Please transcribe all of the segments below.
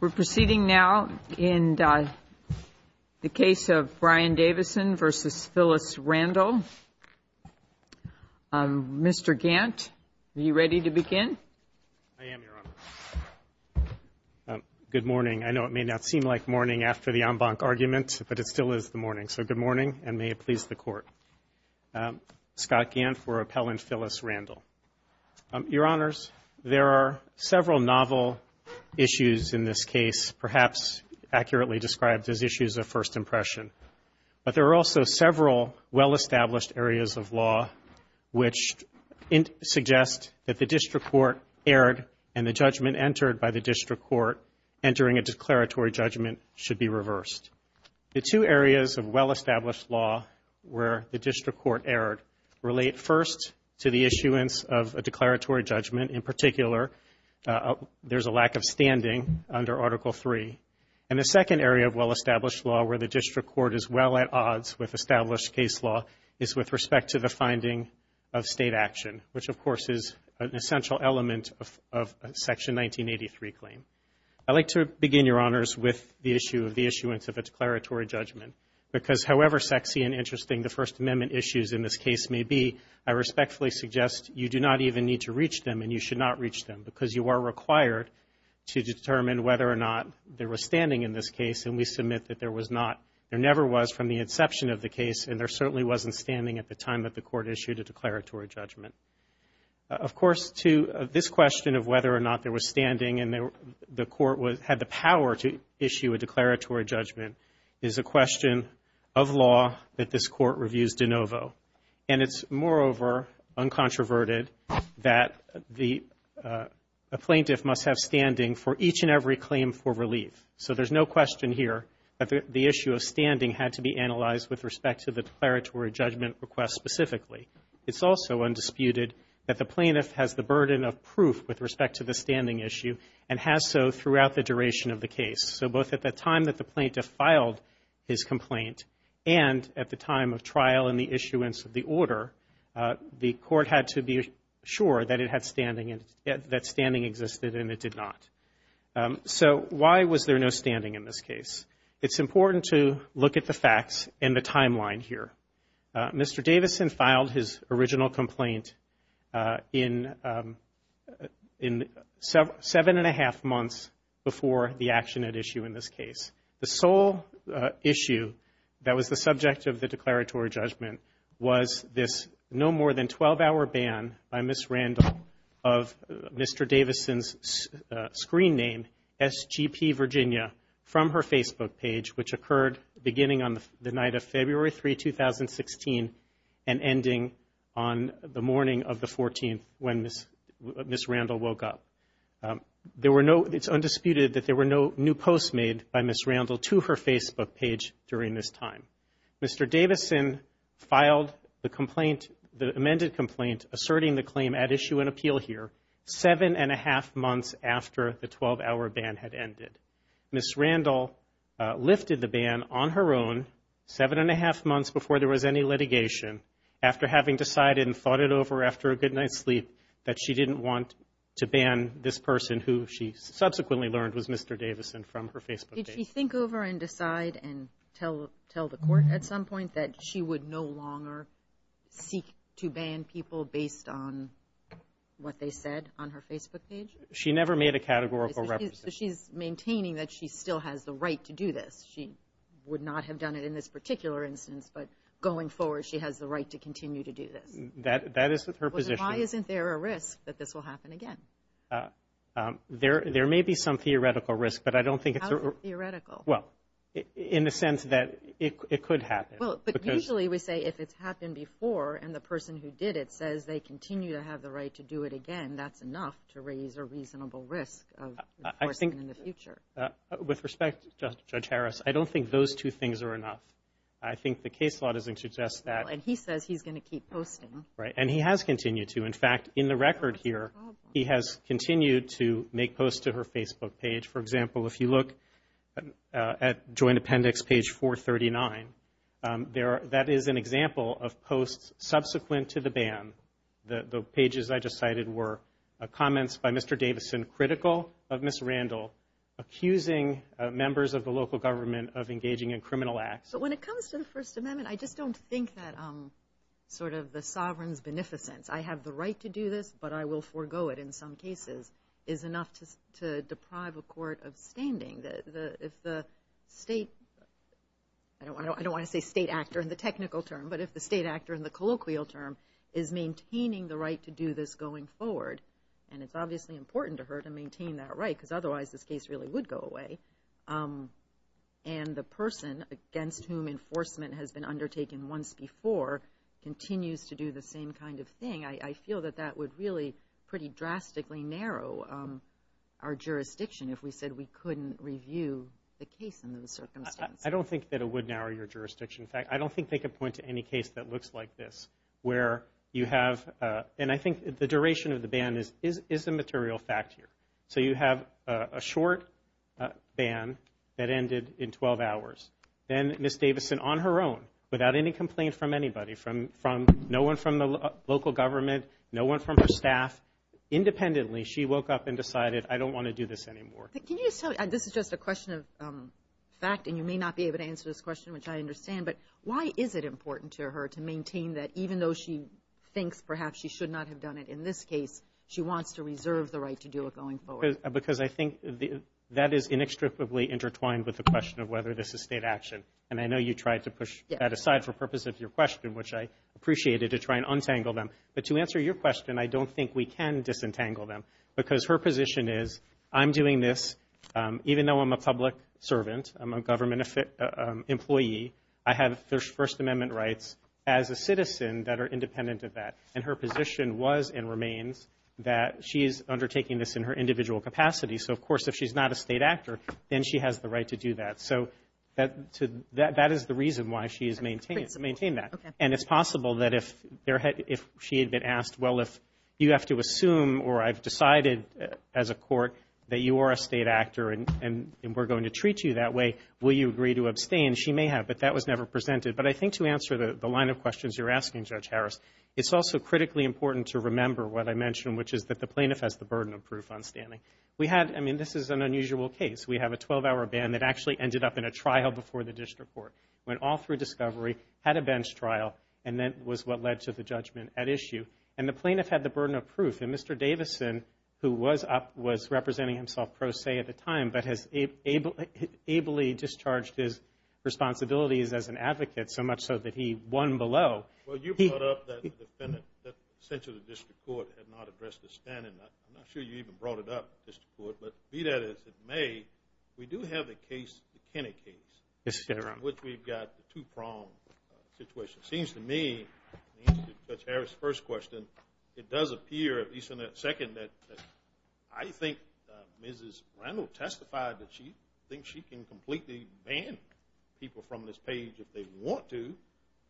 We're proceeding now in the case of Brian Davison v. Phyllis Randall. Mr. Gant, are you ready to begin? I am, Your Honor. Good morning. I know it may not seem like morning after the en banc argument, but it still is the morning. So good morning, and may it please the Court. Scott Gant for Appellant Phyllis Randall. Your Honors, there are several novel issues in this case, perhaps accurately described as issues of first impression. But there are also several well-established areas of law which suggest that the district court erred and the judgment entered by the district court entering a declaratory judgment should be reversed. The two areas of well-established law where the district court erred relate first to the issuance of a declaratory judgment. In particular, there's a lack of standing under Article III. And the second area of well-established law where the district court is well at odds with established case law is with respect to the finding of State action, which, of course, is an essential element of Section 1983 claim. I'd like to begin, Your Honors, with the issue of the issuance of a declaratory judgment, because however sexy and interesting the First Amendment issues in this case may be, I respectfully suggest you do not even need to reach them, and you should not reach them, because you are required to determine whether or not there was standing in this case. And we submit that there was not. There never was from the inception of the case, and there certainly wasn't standing at the time that the Court issued a declaratory judgment. Of course, this question of whether or not there was standing and the Court had the power to issue a declaratory judgment is a question of law that this Court reviews de novo. And it's, moreover, uncontroverted that a plaintiff must have standing for each and every claim for relief. So there's no question here that the issue of standing had to be analyzed with respect to the declaratory judgment request specifically. It's also undisputed that the plaintiff has the burden of proof with respect to the standing issue and has so throughout the duration of the case. So both at the time that the plaintiff filed his complaint and at the time of trial and the issuance of the order, the Court had to be sure that it had standing and that standing existed, and it did not. So why was there no standing in this case? It's important to look at the facts in the timeline here. Mr. Davison filed his original complaint in seven and a half months before the action at issue in this case. The sole issue that was the subject of the declaratory judgment was this no more than 12-hour ban by Ms. Randall of Mr. Davison's screen name, SGP Virginia, from her Facebook page, which occurred beginning on the night of February 3, 2016 and ending on the morning of the 14th when Ms. Randall woke up. It's undisputed that there were no new posts made by Ms. Randall to her Facebook page during this time. Mr. Davison filed the complaint, the amended complaint, asserting the claim at issue and appeal here, seven and a half months after the 12-hour ban had ended. Ms. Randall lifted the ban on her own, seven and a half months before there was any litigation, after having decided and thought it over after a good night's sleep that she didn't want to ban this person who she subsequently learned was Mr. Davison from her Facebook page. Did she think over and decide and tell the Court at some point that she would no longer seek to ban people based on what they said on her Facebook page? She never made a categorical representation. So she's maintaining that she still has the right to do this. She would not have done it in this particular instance, but going forward she has the right to continue to do this. That is her position. Why isn't there a risk that this will happen again? There may be some theoretical risk, but I don't think it's a – How is it theoretical? Well, in the sense that it could happen. Well, but usually we say if it's happened before and the person who did it says they continue to have the right to do it again, that's enough to raise a reasonable risk of reporting in the future. With respect, Judge Harris, I don't think those two things are enough. I think the case law doesn't suggest that. And he says he's going to keep posting. Right, and he has continued to. In fact, in the record here, he has continued to make posts to her Facebook page. For example, if you look at Joint Appendix page 439, that is an example of posts subsequent to the ban. The pages I just cited were comments by Mr. Davison, critical of Ms. Randall, accusing members of the local government of engaging in criminal acts. But when it comes to the First Amendment, I just don't think that sort of the sovereign's beneficence, I have the right to do this, but I will forego it in some cases, is enough to deprive a court of standing. If the state – I don't want to say state actor in the technical term, but if the state actor in the colloquial term is maintaining the right to do this going forward, and it's obviously important to her to maintain that right because otherwise this case really would go away, and the person against whom enforcement has been undertaken once before continues to do the same kind of thing, I feel that that would really pretty drastically narrow our jurisdiction if we said we couldn't review the case under the circumstance. I don't think that it would narrow your jurisdiction. In fact, I don't think they could point to any case that looks like this where you have – and I think the duration of the ban is a material fact here. So you have a short ban that ended in 12 hours. Then Ms. Davison, on her own, without any complaint from anybody, no one from the local government, no one from her staff, independently, she woke up and decided I don't want to do this anymore. Can you just tell – this is just a question of fact, and you may not be able to answer this question, which I understand, but why is it important to her to maintain that, even though she thinks perhaps she should not have done it in this case, she wants to reserve the right to do it going forward? Because I think that is inextricably intertwined with the question of whether this is state action, and I know you tried to push that aside for purpose of your question, which I appreciated, to try and untangle them. But to answer your question, I don't think we can disentangle them because her position is I'm doing this, even though I'm a public servant, I'm a government employee, I have First Amendment rights as a citizen that are independent of that. And her position was and remains that she is undertaking this in her individual capacity. So, of course, if she's not a state actor, then she has the right to do that. So that is the reason why she has maintained that. And it's possible that if she had been asked, well, if you have to assume, or I've decided as a court that you are a state actor and we're going to treat you that way, will you agree to abstain? She may have, but that was never presented. But I think to answer the line of questions you're asking, Judge Harris, it's also critically important to remember what I mentioned, which is that the plaintiff has the burden of proof on standing. I mean, this is an unusual case. We have a 12-hour ban that actually ended up in a trial before the district court, went all through discovery, had a bench trial, and that was what led to the judgment at issue. And the plaintiff had the burden of proof. And Mr. Davison, who was up, was representing himself pro se at the time, but has ably discharged his responsibilities as an advocate, so much so that he won below. Well, you brought up that the defendant, essentially the district court, had not addressed the standing. I'm not sure you even brought it up, district court. But be that as it may, we do have a case, a Kennedy case, in which we've got a two-pronged situation. It seems to me, in answer to Judge Harris' first question, it does appear, at least in that second, that I think Mrs. Randall testified that she thinks she can completely ban people from this page if they want to.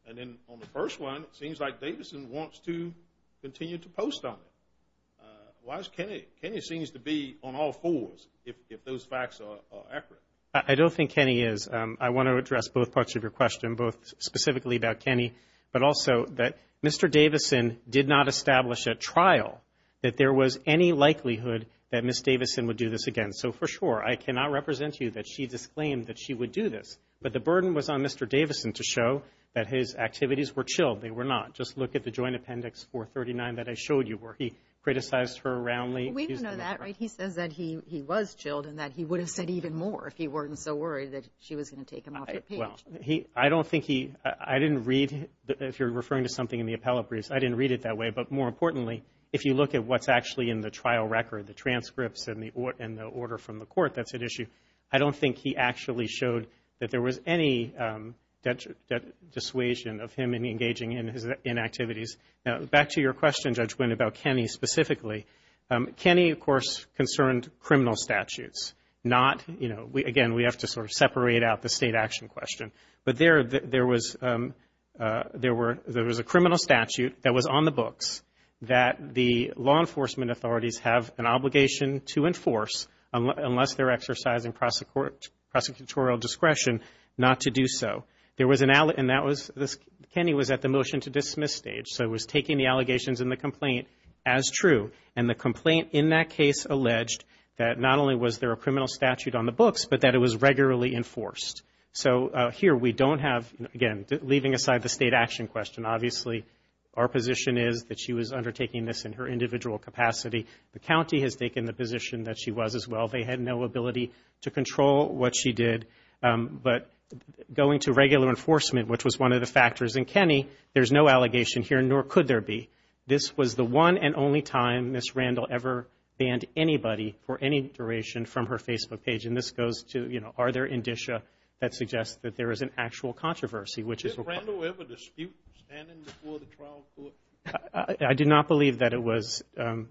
And then on the first one, it seems like Davison wants to continue to post on it. Why is Kennedy? Kennedy seems to be on all fours, if those facts are accurate. I don't think Kennedy is. I want to address both parts of your question, both specifically about Kennedy, but also that Mr. Davison did not establish at trial that there was any likelihood that Ms. Davison would do this again. So, for sure, I cannot represent to you that she disclaimed that she would do this. But the burden was on Mr. Davison to show that his activities were chilled. They were not. Just look at the joint appendix 439 that I showed you where he criticized her roundly. We know that, right? He says that he was chilled and that he would have said even more if he weren't so worried that she was going to take him off the page. Well, I don't think he, I didn't read, if you're referring to something in the appellate briefs, I didn't read it that way. But more importantly, if you look at what's actually in the trial record, the transcripts and the order from the court, that's at issue. I don't think he actually showed that there was any dissuasion of him engaging in his inactivities. Now, back to your question, Judge Winn, about Kennedy specifically. Kennedy, of course, concerned criminal statutes, not, you know, again, we have to sort of separate out the state action question. But there was a criminal statute that was on the books that the law enforcement authorities have an obligation to enforce, unless they're exercising prosecutorial discretion, not to do so. There was an, and that was, Kennedy was at the motion to dismiss stage, so it was taking the allegations in the complaint as true. And the complaint in that case alleged that not only was there a criminal statute on the books, but that it was regularly enforced. So here we don't have, again, leaving aside the state action question, obviously our position is that she was undertaking this in her individual capacity. The county has taken the position that she was as well. They had no ability to control what she did. But going to regular enforcement, which was one of the factors in Kennedy, there's no allegation here, nor could there be. This was the one and only time Ms. Randall ever banned anybody for any duration from her Facebook page. And this goes to, you know, are there indicia that suggest that there is an actual controversy? Did Randall ever dispute standing before the trial court? I do not believe that it was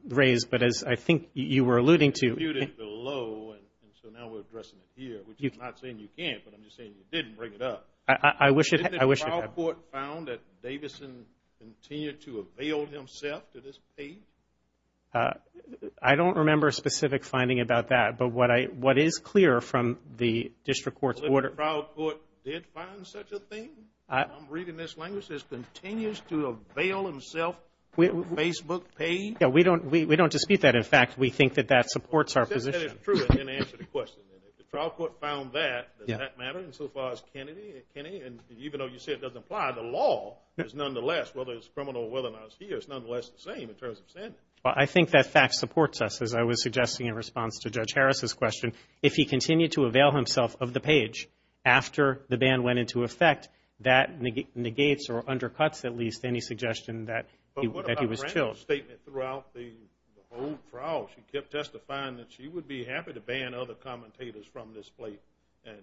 raised, but as I think you were alluding to. He disputed below, and so now we're addressing it here, which is not saying you can't, but I'm just saying you didn't bring it up. I wish it had. The trial court found that Davison continued to avail himself to this page? I don't remember a specific finding about that, but what is clear from the district court's order. The trial court did find such a thing? I'm reading this language. This continues to avail himself Facebook page? Yeah, we don't dispute that. In fact, we think that that supports our position. If that is true, then answer the question. If the trial court found that, does that matter insofar as Kennedy? And even though you say it doesn't apply, the law is nonetheless, whether it's criminal or whether or not it's here, it's nonetheless the same in terms of sending it. Well, I think that fact supports us, as I was suggesting in response to Judge Harris' question. If he continued to avail himself of the page after the ban went into effect, that negates or undercuts at least any suggestion that he was killed. But what about Randall's statement throughout the whole trial? She kept testifying that she would be happy to ban other commentators from this plate, and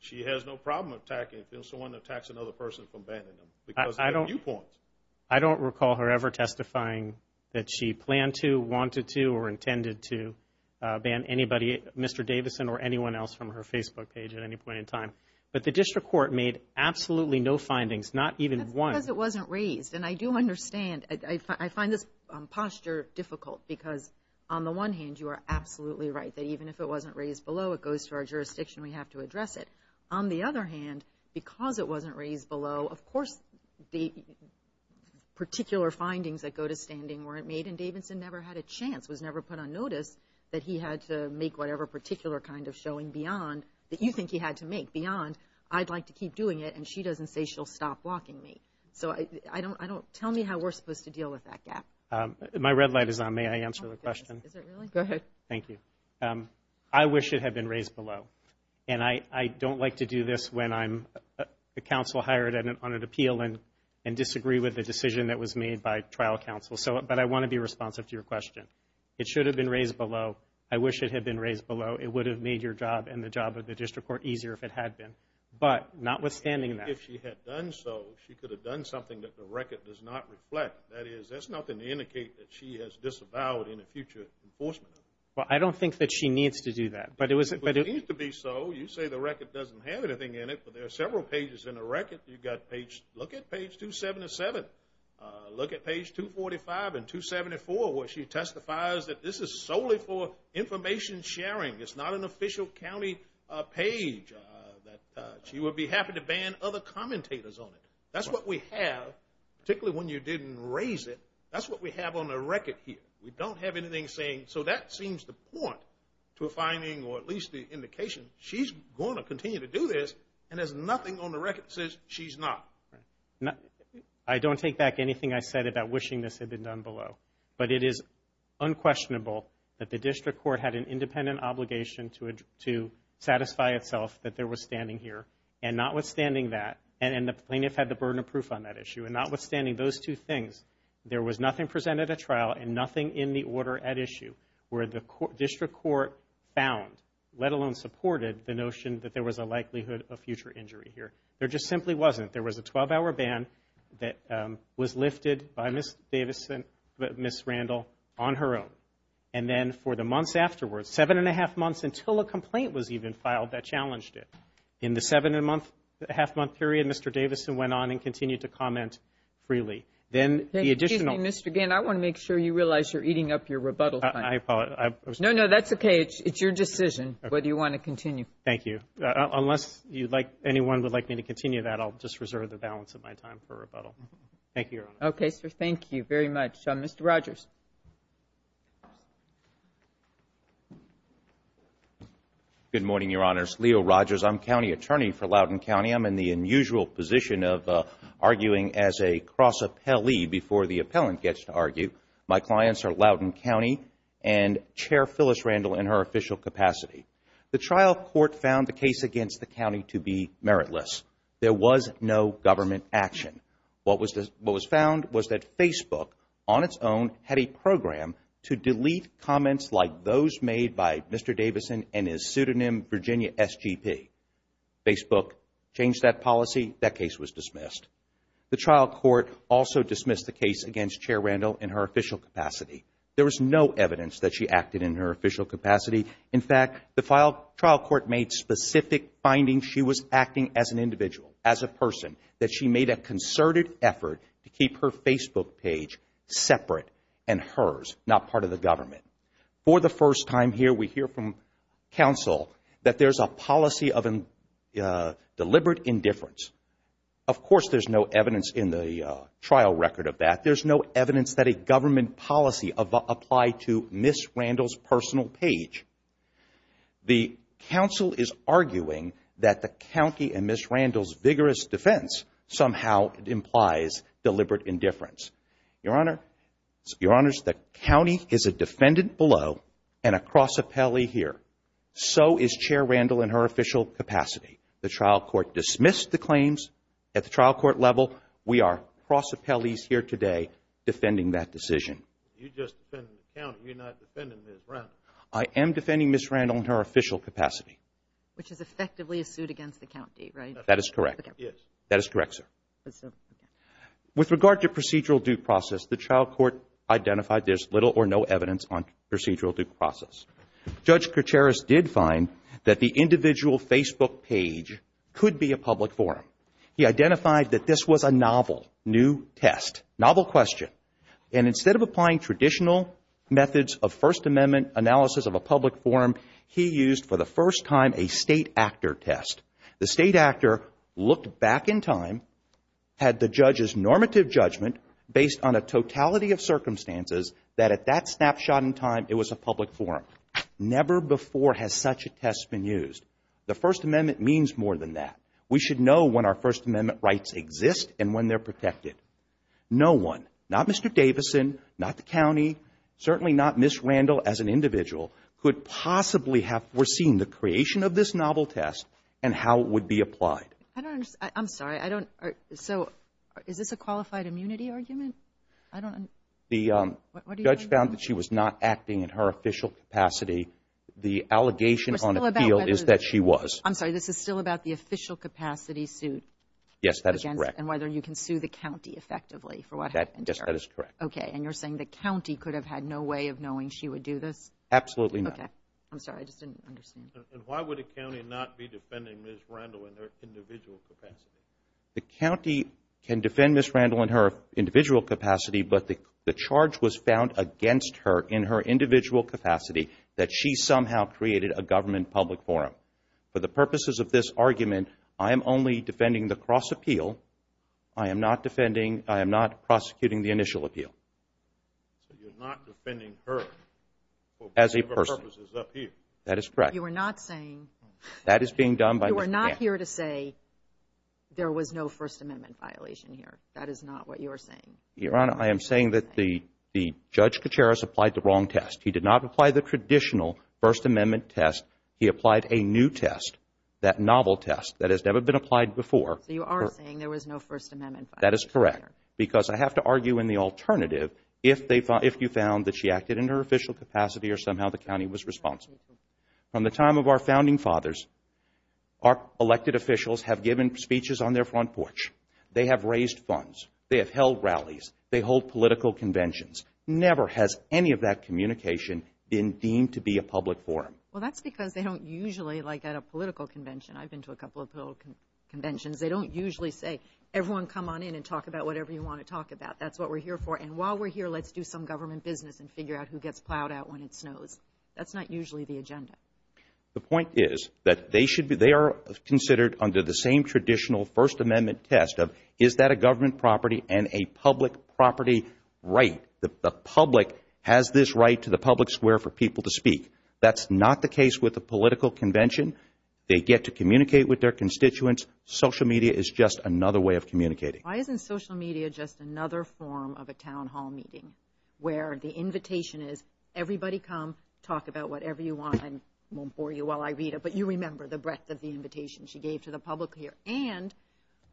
she has no problem attacking if someone attacks another person from banning them. I don't recall her ever testifying that she planned to, wanted to, or intended to ban anybody, Mr. Davison or anyone else from her Facebook page at any point in time. But the district court made absolutely no findings, not even one. That's because it wasn't raised, and I do understand. I find this posture difficult because, on the one hand, you are absolutely right, that even if it wasn't raised below, it goes to our jurisdiction. We have to address it. On the other hand, because it wasn't raised below, of course the particular findings that go to standing weren't made, and Davison never had a chance, was never put on notice, that he had to make whatever particular kind of showing beyond that you think he had to make, beyond, I'd like to keep doing it, and she doesn't say she'll stop blocking me. So tell me how we're supposed to deal with that gap. My red light is on. May I answer the question? Go ahead. Thank you. I wish it had been raised below, and I don't like to do this when I'm a counsel hired on an appeal and disagree with the decision that was made by trial counsel. But I want to be responsive to your question. It should have been raised below. I wish it had been raised below. It would have made your job and the job of the district court easier if it had been. But notwithstanding that. If she had done so, she could have done something that the record does not reflect. That is, there's nothing to indicate that she has disavowed in a future enforcement. Well, I don't think that she needs to do that. But it was. It needs to be so. You say the record doesn't have anything in it, but there are several pages in the record. You've got page, look at page 277. Look at page 245 and 274 where she testifies that this is solely for information sharing. It's not an official county page. She would be happy to ban other commentators on it. That's what we have, particularly when you didn't raise it. That's what we have on the record here. We don't have anything saying, so that seems the point to a finding or at least the indication. She's going to continue to do this, and there's nothing on the record that says she's not. I don't take back anything I said about wishing this had been done below. But it is unquestionable that the district court had an independent obligation to satisfy itself that there was standing here. And notwithstanding that. And the plaintiff had the burden of proof on that issue. And notwithstanding those two things, there was nothing presented at trial and nothing in the order at issue where the district court found, let alone supported, the notion that there was a likelihood of future injury here. There just simply wasn't. There was a 12-hour ban that was lifted by Ms. Davis and Ms. Randall on her own. And then for the months afterwards, seven and a half months until a complaint was even filed that challenged it. In the seven-and-a-half-month period, Mr. Davis went on and continued to comment freely. Then the additional ---- Excuse me, Mr. Gann. I want to make sure you realize you're eating up your rebuttal time. I apologize. No, no, that's okay. It's your decision whether you want to continue. Thank you. Unless anyone would like me to continue that, I'll just reserve the balance of my time for rebuttal. Thank you, Your Honor. Okay, sir. Thank you very much. Mr. Rogers. Good morning, Your Honors. Leo Rogers. I'm county attorney for Loudoun County. I'm in the unusual position of arguing as a cross-appellee before the appellant gets to argue. My clients are Loudoun County and Chair Phyllis Randall in her official capacity. The trial court found the case against the county to be meritless. There was no government action. What was found was that Facebook on its own had a program to delete comments like those made by Mr. Davidson and his pseudonym Virginia SGP. Facebook changed that policy. That case was dismissed. The trial court also dismissed the case against Chair Randall in her official capacity. There was no evidence that she acted in her official capacity. In fact, the trial court made specific findings she was acting as an individual, as a person, that she made a concerted effort to keep her Facebook page separate and hers, not part of the government. For the first time here, we hear from counsel that there's a policy of deliberate indifference. Of course, there's no evidence in the trial record of that. There's no evidence that a government policy applied to Ms. Randall's personal page. The counsel is arguing that the county and Ms. Randall's vigorous defense somehow implies deliberate indifference. Your Honor, the county is a defendant below and a cross appellee here. So is Chair Randall in her official capacity. The trial court dismissed the claims at the trial court level. We are cross appellees here today defending that decision. You're just defending the county. You're not defending Ms. Randall. I am defending Ms. Randall in her official capacity. Which is effectively a suit against the county, right? That is correct. Yes. That is correct, sir. With regard to procedural due process, the trial court identified there's little or no evidence on procedural due process. Judge Kircheris did find that the individual Facebook page could be a public forum. He identified that this was a novel, new test, novel question. And instead of applying traditional methods of First Amendment analysis of a public forum, he used for the first time a state actor test. The state actor looked back in time, had the judge's normative judgment based on a totality of circumstances, that at that snapshot in time it was a public forum. Never before has such a test been used. The First Amendment means more than that. We should know when our First Amendment rights exist and when they're protected. No one, not Mr. Davison, not the county, certainly not Ms. Randall as an individual, could possibly have foreseen the creation of this novel test and how it would be applied. I don't understand. I'm sorry. I don't. So is this a qualified immunity argument? I don't. The judge found that she was not acting in her official capacity. The allegation on appeal is that she was. I'm sorry. This is still about the official capacity suit. Yes, that is correct. And whether you can sue the county effectively for what happened there. Yes, that is correct. Okay. And you're saying the county could have had no way of knowing she would do this? Absolutely not. Okay. I'm sorry. I just didn't understand. And why would a county not be defending Ms. Randall in her individual capacity? The county can defend Ms. Randall in her individual capacity, but the charge was found against her in her individual capacity that she somehow created a government public forum. For the purposes of this argument, I am only defending the cross-appeal. I am not prosecuting the initial appeal. So you're not defending her. As a person. For purposes of appeal. That is correct. You are not saying. That is being done by Ms. Randall. You are not here to say there was no First Amendment violation here. That is not what you are saying. Your Honor, I am saying that the Judge Kacharis applied the wrong test. He did not apply the traditional First Amendment test. He applied a new test, that novel test that has never been applied before. So you are saying there was no First Amendment violation here. That is correct. Because I have to argue in the alternative, if you found that she acted in her official capacity or somehow the county was responsible. From the time of our founding fathers, our elected officials have given speeches on their front porch. They have raised funds. They have held rallies. They hold political conventions. Never has any of that communication been deemed to be a public forum. Well, that's because they don't usually, like at a political convention, I've been to a couple of political conventions, they don't usually say everyone come on in and talk about whatever you want to talk about. That's what we're here for. And while we're here, let's do some government business and figure out who gets plowed out when it snows. That's not usually the agenda. The point is that they are considered under the same traditional First Amendment test of is that a government property and a public property right. The public has this right to the public square for people to speak. That's not the case with a political convention. They get to communicate with their constituents. Social media is just another way of communicating. Why isn't social media just another form of a town hall meeting where the invitation is everybody come, talk about whatever you want, and I won't bore you while I read it, but you remember the breadth of the invitation she gave to the public here. And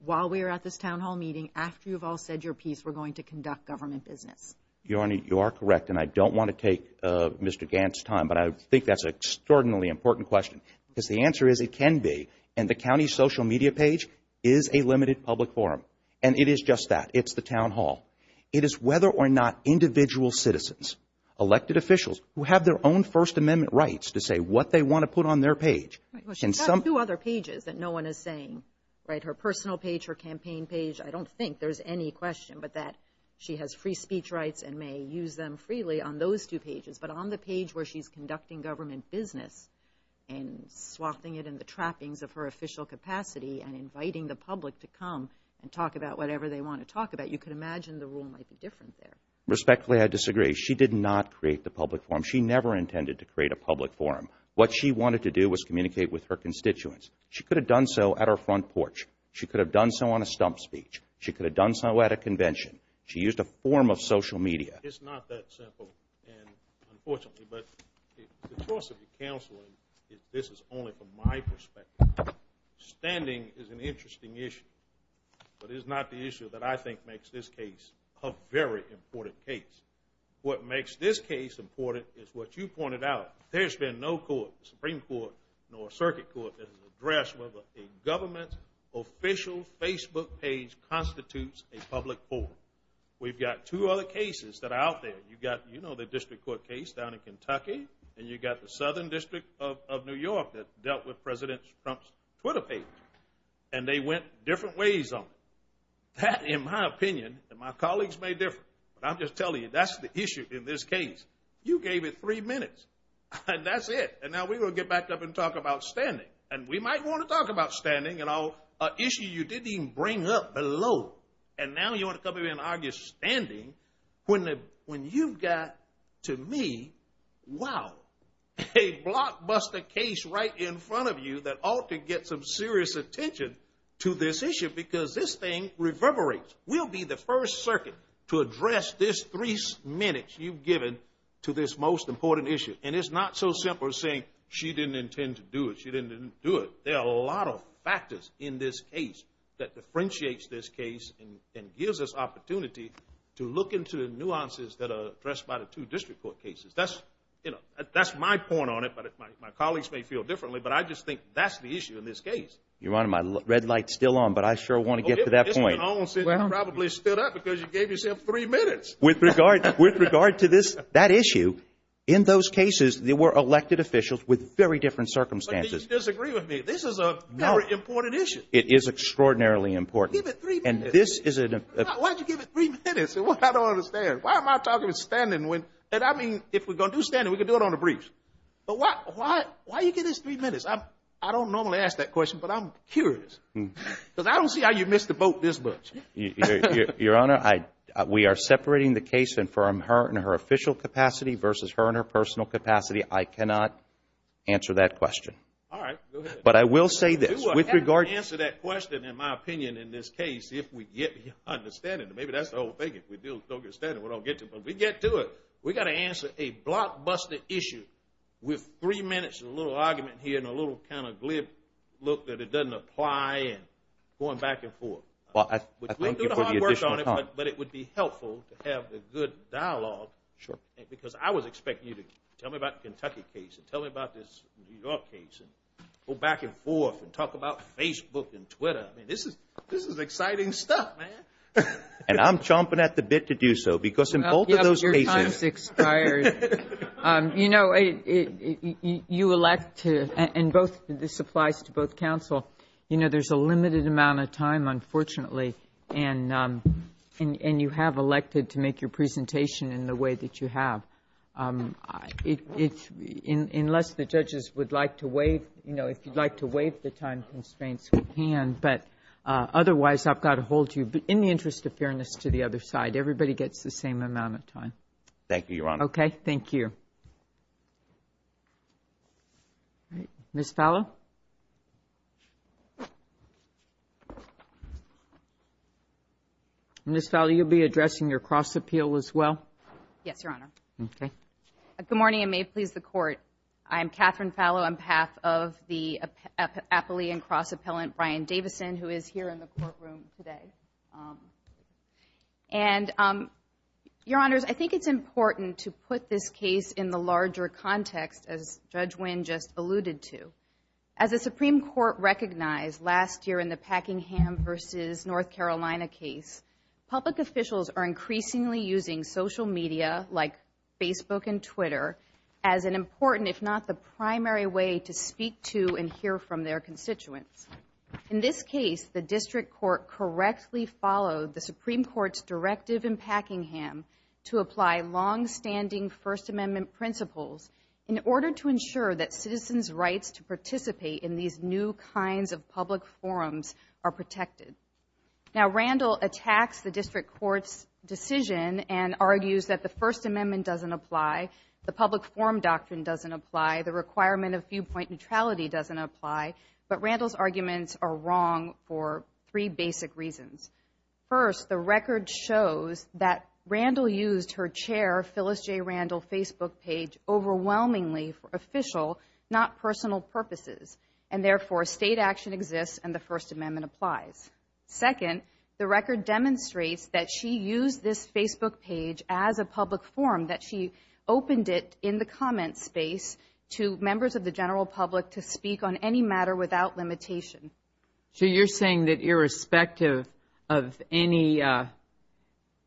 while we are at this town hall meeting, after you've all said your piece, we're going to conduct government business. Your Honor, you are correct, and I don't want to take Mr. Gant's time, but I think that's an extraordinarily important question because the answer is it can be, and the county social media page is a limited public forum, and it is just that. It's the town hall. It is whether or not individual citizens, elected officials who have their own First Amendment rights to say what they want to put on their page. She's got two other pages that no one is saying, right, her personal page, her campaign page. I don't think there's any question but that she has free speech rights and may use them freely on those two pages, but on the page where she's conducting government business and swathing it in the trappings of her official capacity and inviting the public to come and talk about whatever they want to talk about, you could imagine the rule might be different there. Respectfully, I disagree. She did not create the public forum. She never intended to create a public forum. What she wanted to do was communicate with her constituents. She could have done so at her front porch. She could have done so on a stump speech. She could have done so at a convention. She used a form of social media. It's not that simple, unfortunately, but the cost of the counseling is this is only from my perspective. Standing is an interesting issue, but it's not the issue that I think makes this case a very important case. What makes this case important is what you pointed out. There's been no court, Supreme Court, nor circuit court that has addressed whether a government official Facebook page constitutes a public forum. We've got two other cases that are out there. You've got the district court case down in Kentucky, and you've got the Southern District of New York that dealt with President Trump's Twitter page, and they went different ways on it. That, in my opinion, and my colleagues may differ, but I'm just telling you that's the issue in this case. You gave it three minutes, and that's it, and now we're going to get back up and talk about standing, and we might want to talk about standing and an issue you didn't even bring up below, and now you want to come in and argue standing when you've got, to me, wow, a blockbuster case right in front of you that ought to get some serious attention to this issue because this thing reverberates. We'll be the first circuit to address this three minutes you've given to this most important issue, and it's not so simple as saying she didn't intend to do it, she didn't do it. There are a lot of factors in this case that differentiates this case and gives us opportunity to look into the nuances that are addressed by the two district court cases. That's my point on it, but my colleagues may feel differently, but I just think that's the issue in this case. Your Honor, my red light's still on, but I sure want to get to that point. You probably stood up because you gave yourself three minutes. With regard to that issue, in those cases, there were elected officials with very different circumstances. You disagree with me. This is a very important issue. It is extraordinarily important. Give it three minutes. Why did you give it three minutes? I don't understand. Why am I talking about standing when, and I mean, if we're going to do standing, we could do it on a brief. But why do you give this three minutes? I don't normally ask that question, but I'm curious because I don't see how you missed the boat this much. Your Honor, we are separating the case from her in her official capacity versus her in her personal capacity. I cannot answer that question. All right. Go ahead. But I will say this. We will answer that question, in my opinion, in this case, if we get beyond the standing. Maybe that's the whole thing. If we don't get standing, we don't get to it. But we get to it. We've got to answer a blockbuster issue with three minutes and a little argument here and a little kind of glib look that it doesn't apply and going back and forth. Well, I thank you for the additional time. We'll do the hard work on it, but it would be helpful to have the good dialogue. Sure. Because I was expecting you to tell me about the Kentucky case and tell me about this New York case and go back and forth and talk about Facebook and Twitter. I mean, this is exciting stuff, man. And I'm chomping at the bit to do so because in both of those cases. Your time has expired. You know, you elect to – and this applies to both counsel. You know, there's a limited amount of time, unfortunately, and you have elected to make your presentation in the way that you have. Unless the judges would like to waive, you know, if you'd like to waive the time constraints, we can. But otherwise, I've got to hold you. But in the interest of fairness to the other side, everybody gets the same amount of time. Thank you, Your Honor. Okay. Thank you. Thank you. All right. Ms. Fallow? Ms. Fallow, you'll be addressing your cross-appeal as well? Yes, Your Honor. Okay. Good morning, and may it please the Court. I'm Catherine Fallow on behalf of the Appalachian cross-appellant, Brian Davison, who is here in the courtroom today. And, Your Honors, I think it's important to put this case in the larger context, as Judge Winn just alluded to. As the Supreme Court recognized last year in the Packingham v. North Carolina case, public officials are increasingly using social media like Facebook and Twitter as an important, if not the primary way, to speak to and hear from their constituents. In this case, the district court correctly followed the Supreme Court's directive in Packingham to apply longstanding First Amendment principles in order to ensure that citizens' rights to participate in these new kinds of public forums are protected. Now, Randall attacks the district court's decision and argues that the First Amendment doesn't apply, the public forum doctrine doesn't apply, the requirement of viewpoint neutrality doesn't apply, but Randall's arguments are wrong for three basic reasons. First, the record shows that Randall used her chair, Phyllis J. Randall, Facebook page overwhelmingly for official, not personal purposes, and therefore state action exists and the First Amendment applies. Second, the record demonstrates that she used this Facebook page as a public forum, that she opened it in the comment space to members of the general public to speak on any matter without limitation. So you're saying that irrespective of any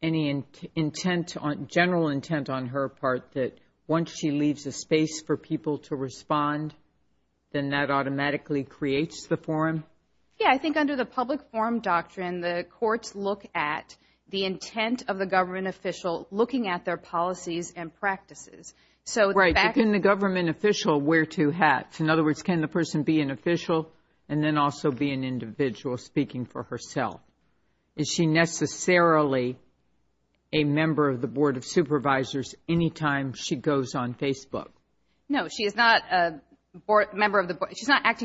intent, general intent on her part, that once she leaves a space for people to respond, then that automatically creates the forum? Yeah, I think under the public forum doctrine, the courts look at the intent of the government official looking at their policies and practices. Right, but can the government official wear two hats? In other words, can the person be an official and then also be an individual speaking for herself? Is she necessarily a member of the Board of Supervisors anytime she goes on Facebook? No, she is not acting in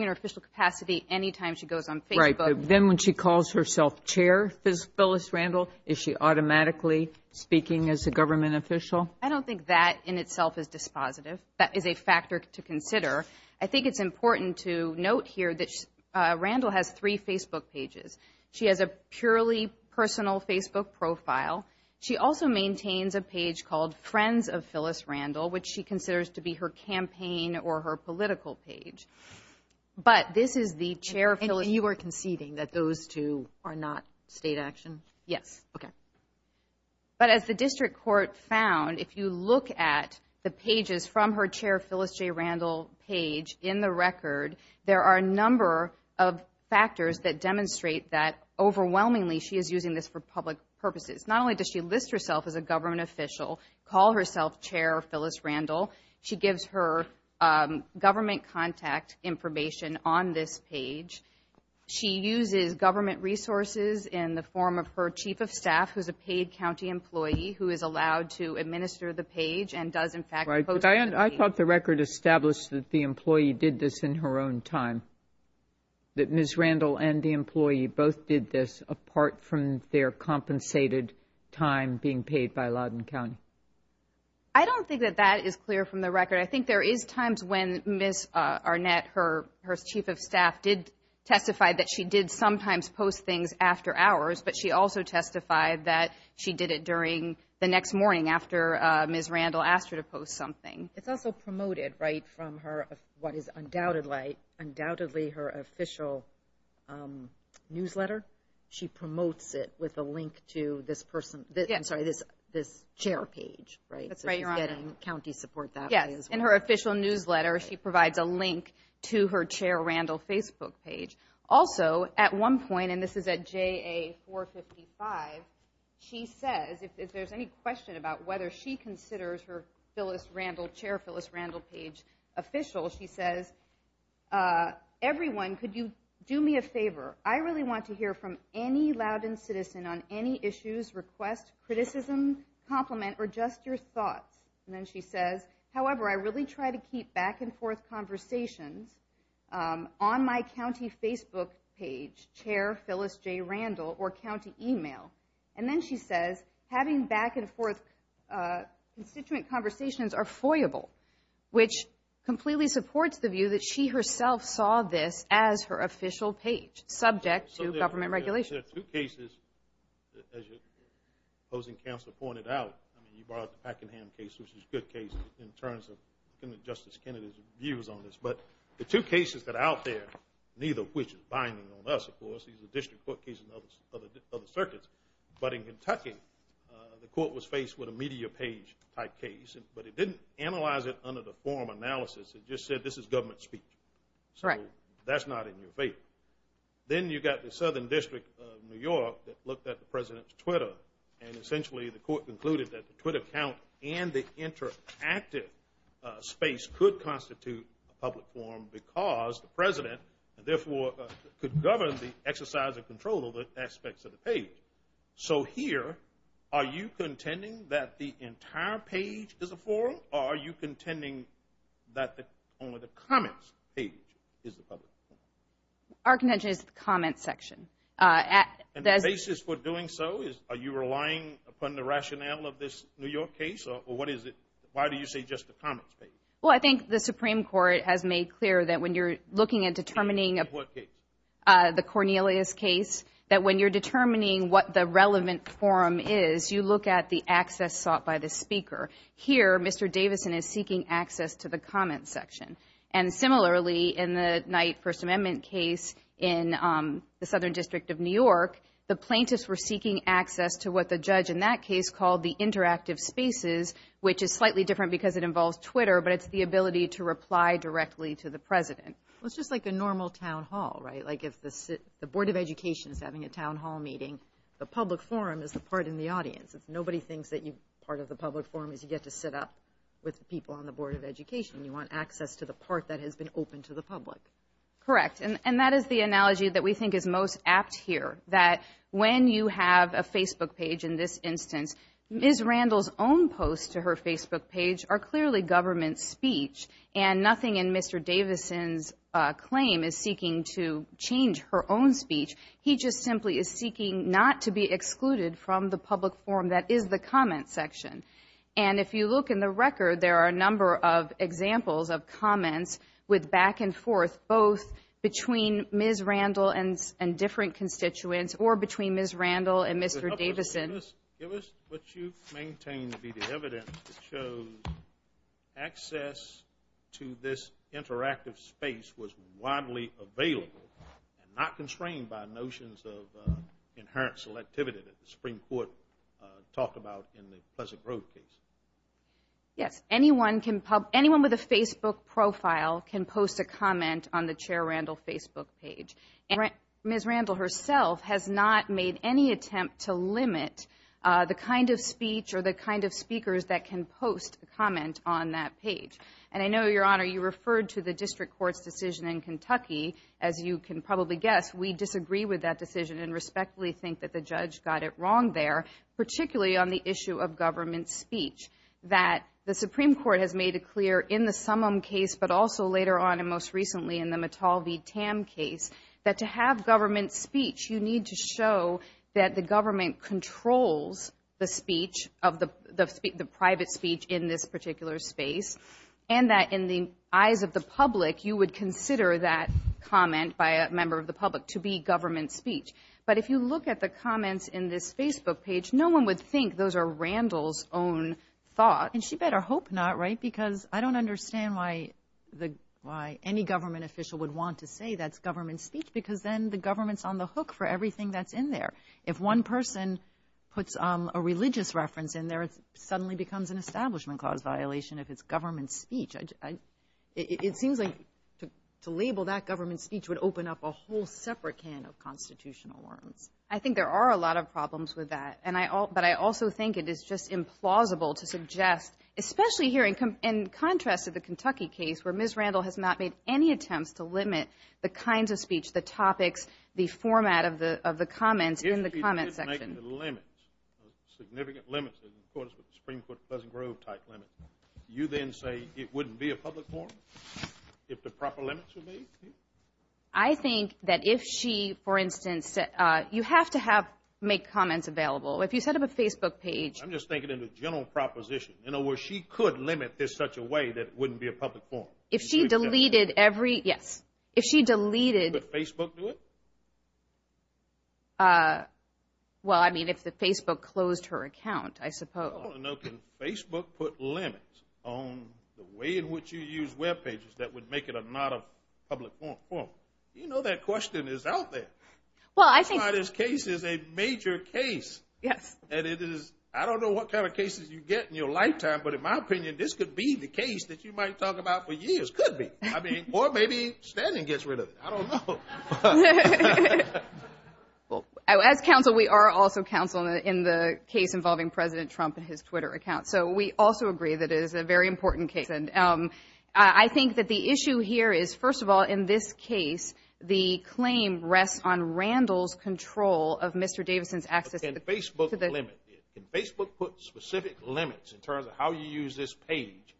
her official capacity anytime she goes on Facebook. Right, but then when she calls herself chair, Phyllis Randall, is she automatically speaking as a government official? I don't think that in itself is dispositive. That is a factor to consider. I think it's important to note here that Randall has three Facebook pages. She has a purely personal Facebook profile. She also maintains a page called Friends of Phyllis Randall, which she considers to be her campaign or her political page. But this is the chair, Phyllis. And you are conceding that those two are not state action? Yes. But as the district court found, if you look at the pages from her chair, Phyllis J. Randall, page in the record, there are a number of factors that demonstrate that overwhelmingly she is using this for public purposes. Not only does she list herself as a government official, call herself chair Phyllis Randall, she gives her government contact information on this page. She uses government resources in the form of her chief of staff, who is a paid county employee who is allowed to administer the page and does, in fact, post the page. I thought the record established that the employee did this in her own time, that Ms. Randall and the employee both did this apart from their compensated time being paid by Loudoun County. I don't think that that is clear from the record. I think there is times when Ms. Arnett, her chief of staff, did testify that she did sometimes post things after hours, but she also testified that she did it during the next morning after Ms. Randall asked her to post something. It's also promoted, right, from what is undoubtedly her official newsletter. She promotes it with a link to this chair page, right? In her official newsletter, she provides a link to her chair Randall Facebook page. Also, at one point, and this is at JA455, she says, if there's any question about whether she considers her chair Phyllis Randall page official, she says, everyone, could you do me a favor? I really want to hear from any Loudoun citizen on any issues, request, criticism, compliment, or just your thoughts. And then she says, however, I really try to keep back-and-forth conversations on my county Facebook page, chair Phyllis J. Randall, or county email. And then she says, having back-and-forth constituent conversations are foyable, which completely supports the view that she herself saw this as her official page, subject to government regulations. There are two cases, as your opposing counsel pointed out, you brought the Pakenham case, which is a good case in terms of Justice Kennedy's views on this. But the two cases that are out there, neither of which is binding on us, of course, these are district court cases and other circuits. But in Kentucky, the court was faced with a media page type case, but it didn't analyze it under the form analysis. It just said this is government speech. So that's not in your favor. Then you've got the Southern District of New York that looked at the President's and essentially the court concluded that the Twitter account and the interactive space could constitute a public forum because the President, therefore, could govern the exercise and control of the aspects of the page. So here, are you contending that the entire page is a forum, or are you contending that only the comments page is the public forum? Our contention is the comments section. And the basis for doing so, are you relying upon the rationale of this New York case, or what is it? Why do you say just the comments page? Well, I think the Supreme Court has made clear that when you're looking and determining the Cornelius case, that when you're determining what the relevant forum is, you look at the access sought by the speaker. Here, Mr. Davison is seeking access to the comments section. And similarly, in the Knight First Amendment case in the Southern District of New York, the plaintiffs were seeking access to what the judge in that case called the interactive spaces, which is slightly different because it involves Twitter, but it's the ability to reply directly to the President. Well, it's just like a normal town hall, right? Like if the Board of Education is having a town hall meeting, the public forum is the part in the audience. Nobody thinks that part of the public forum is you get to sit up with people on the Board of Education. You want access to the part that has been open to the public. Correct, and that is the analogy that we think is most apt here, that when you have a Facebook page in this instance, Ms. Randall's own posts to her Facebook page are clearly government speech and nothing in Mr. Davison's claim is seeking to change her own speech. He just simply is seeking not to be excluded from the public forum that is the comments section. And if you look in the record, there are a number of examples of comments with back and forth, both between Ms. Randall and different constituents or between Ms. Randall and Mr. Davison. Give us what you maintain to be the evidence that shows access to this interactive space was widely available and not constrained by notions of inherent selectivity that the Supreme Court talked about in the Pleasant Grove case. Yes, anyone with a Facebook profile can post a comment on the Chair Randall Facebook page. Ms. Randall herself has not made any attempt to limit the kind of speech or the kind of speakers that can post a comment on that page. And I know, Your Honor, you referred to the district court's decision in Kentucky. As you can probably guess, we disagree with that decision and respectfully think that the judge got it wrong there, particularly on the issue of government speech, that the Supreme Court has made it clear in the Summum case, but also later on and most recently in the Mittal v. Tam case, that to have government speech, you need to show that the government controls the private speech in this particular space and that in the eyes of the public you would consider that comment by a member of the public to be government speech. But if you look at the comments in this Facebook page, no one would think those are Randall's own thoughts. And she better hope not, right, because I don't understand why any government official would want to say that's government speech because then the government's on the hook for everything that's in there. If one person puts a religious reference in there, it suddenly becomes an Establishment Clause violation if it's government speech. It seems like to label that government speech would open up a whole separate can of constitutional worms. I think there are a lot of problems with that, but I also think it is just implausible to suggest, especially here in contrast to the Kentucky case where Ms. Randall has not made any attempts to limit the kinds of speech, the topics, the format of the comments in the comment section. If she did make the limits, significant limits, of course with the Supreme Court Pleasant Grove type limit, you then say it wouldn't be a public forum if the proper limits were made? I think that if she, for instance, you have to make comments available. If you set up a Facebook page. I'm just thinking in a general proposition. In other words, she could limit this such a way that it wouldn't be a public forum. If she deleted every, yes. If she deleted. Would Facebook do it? Well, I mean, if the Facebook closed her account, I suppose. I want to know, can Facebook put limits on the way in which you use web pages that would make it not a public forum? You know that question is out there. Well, I think. This case is a major case. Yes. And it is, I don't know what kind of cases you get in your lifetime, but in my opinion, this could be the case that you might talk about for years. Could be. I mean, or maybe Stanton gets rid of it. I don't know. Well, as counsel, we are also counsel in the case involving President Trump and his Twitter account. So we also agree that it is a very important case. And I think that the issue here is, first of all, in this case, the claim rests on Randall's control of Mr. Davidson's access to the Facebook limit. Can Facebook put specific limits in terms of how you use this page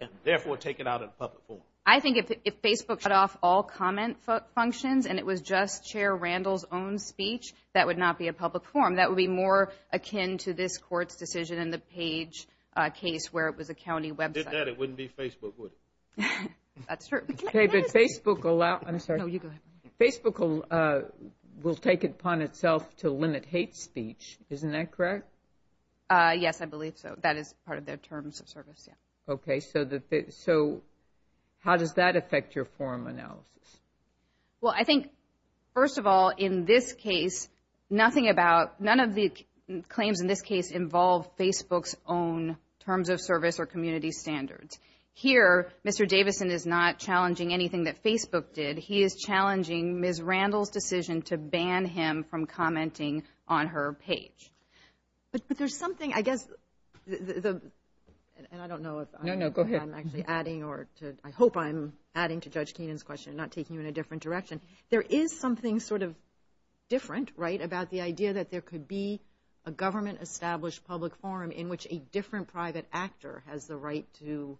and, therefore, take it out in public form? I think if Facebook shut off all comment functions and it was just Chair Randall's own speech, that would not be a public forum. That would be more akin to this Court's decision in the page case where it was a county website. If it did that, it wouldn't be Facebook, would it? That's true. David, Facebook will take it upon itself to limit hate speech. Isn't that correct? Yes, I believe so. That is part of their terms of service. Okay. So how does that affect your forum analysis? Well, I think, first of all, in this case, none of the claims in this case involve Facebook's own terms of service or community standards. Here, Mr. Davidson is not challenging anything that Facebook did. He is challenging Ms. Randall's decision to ban him from commenting on her page. But there's something, I guess, and I don't know if I'm actually adding or I hope I'm adding to Judge Keenan's question, not taking you in a different direction. There is something sort of different, right, about the idea that there could be a government-established public forum in which a different private actor has the right to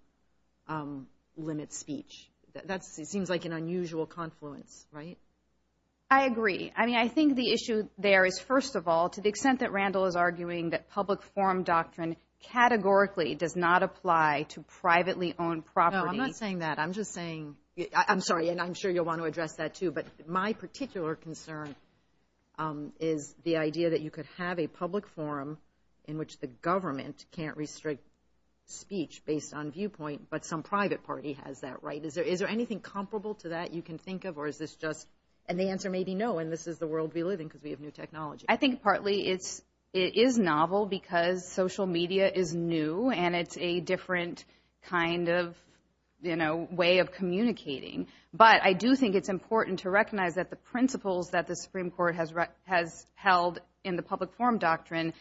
limit speech. That seems like an unusual confluence, right? I agree. I mean, I think the issue there is, first of all, to the extent that Randall is arguing that public forum doctrine categorically does not apply to privately-owned property. No, I'm not saying that. I'm just saying – I'm sorry, and I'm sure you'll want to address that, too. But my particular concern is the idea that you could have a public forum in which the government can't restrict speech based on viewpoint, but some private party has that right. Is there anything comparable to that you can think of, or is this just – and the answer may be no, and this is the world we live in because we have new technology. I think partly it is novel because social media is new, and it's a different kind of way of communicating. But I do think it's important to recognize that the principles that the Supreme Court has held in the public forum doctrine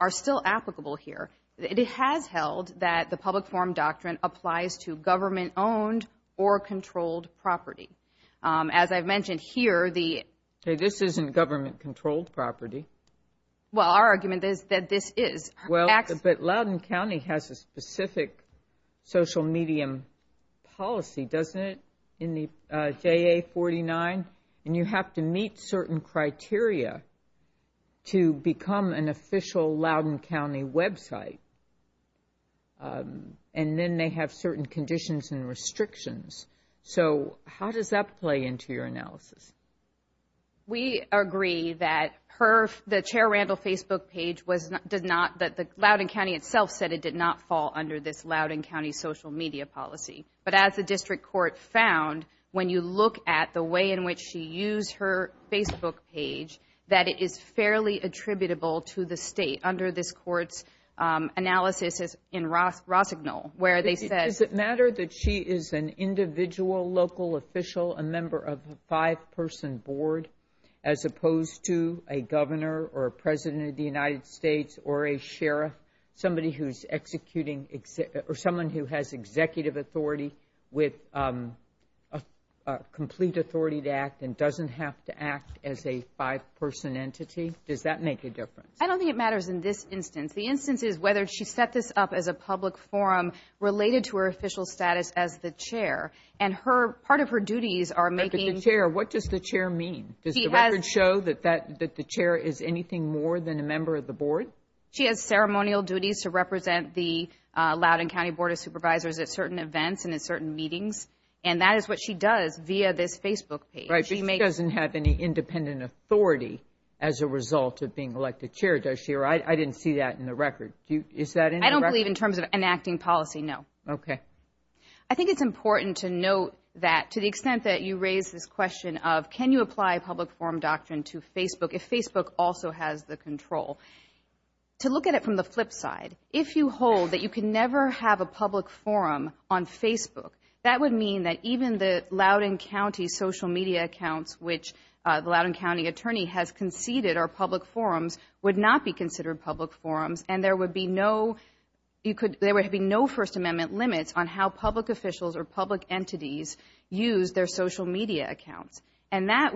are still applicable here. It has held that the public forum doctrine applies to government-owned or controlled property. As I've mentioned here, the – Okay, this isn't government-controlled property. Well, our argument is that this is. Well, but Loudoun County has a specific social medium policy, doesn't it, in the JA-49? And you have to meet certain criteria to become an official Loudoun County website. And then they have certain conditions and restrictions. So how does that play into your analysis? We agree that the Chair Randall Facebook page did not – that Loudoun County itself said it did not fall under this Loudoun County social media policy. But as the district court found, when you look at the way in which she used her Facebook page, that it is fairly attributable to the state under this court's analysis in Rossignol, where they said – as opposed to a governor or a president of the United States or a sheriff, somebody who's executing – or someone who has executive authority with complete authority to act and doesn't have to act as a five-person entity? Does that make a difference? I don't think it matters in this instance. The instance is whether she set this up as a public forum related to her official status as the Chair. And her – part of her duties are making – As the Chair, what does the Chair mean? Does the record show that the Chair is anything more than a member of the board? She has ceremonial duties to represent the Loudoun County Board of Supervisors at certain events and at certain meetings. And that is what she does via this Facebook page. Right, but she doesn't have any independent authority as a result of being elected Chair, does she? Or I didn't see that in the record. Is that in the record? I don't believe in terms of enacting policy, no. Okay. I think it's important to note that to the extent that you raise this question of can you apply a public forum doctrine to Facebook if Facebook also has the control, to look at it from the flip side. If you hold that you can never have a public forum on Facebook, that would mean that even the Loudoun County social media accounts which the Loudoun County attorney has conceded are public forums would not be considered public forums. And there would be no First Amendment limits on how public officials or public entities use their social media accounts. And that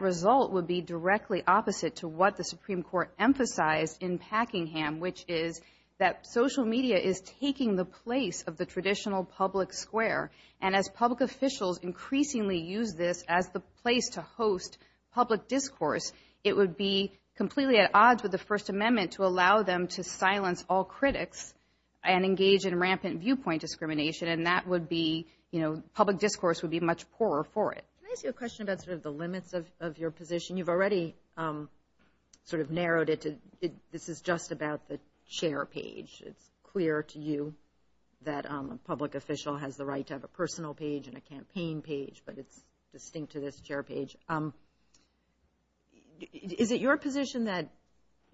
result would be directly opposite to what the Supreme Court emphasized in Packingham, which is that social media is taking the place of the traditional public square. And as public officials increasingly use this as the place to host public discourse, it would be completely at odds with the First Amendment to allow them to silence all critics and engage in rampant viewpoint discrimination, and that would be, you know, public discourse would be much poorer for it. Can I ask you a question about sort of the limits of your position? You've already sort of narrowed it to this is just about the chair page. It's clear to you that a public official has the right to have a personal page and a campaign page, but it's distinct to this chair page. Is it your position that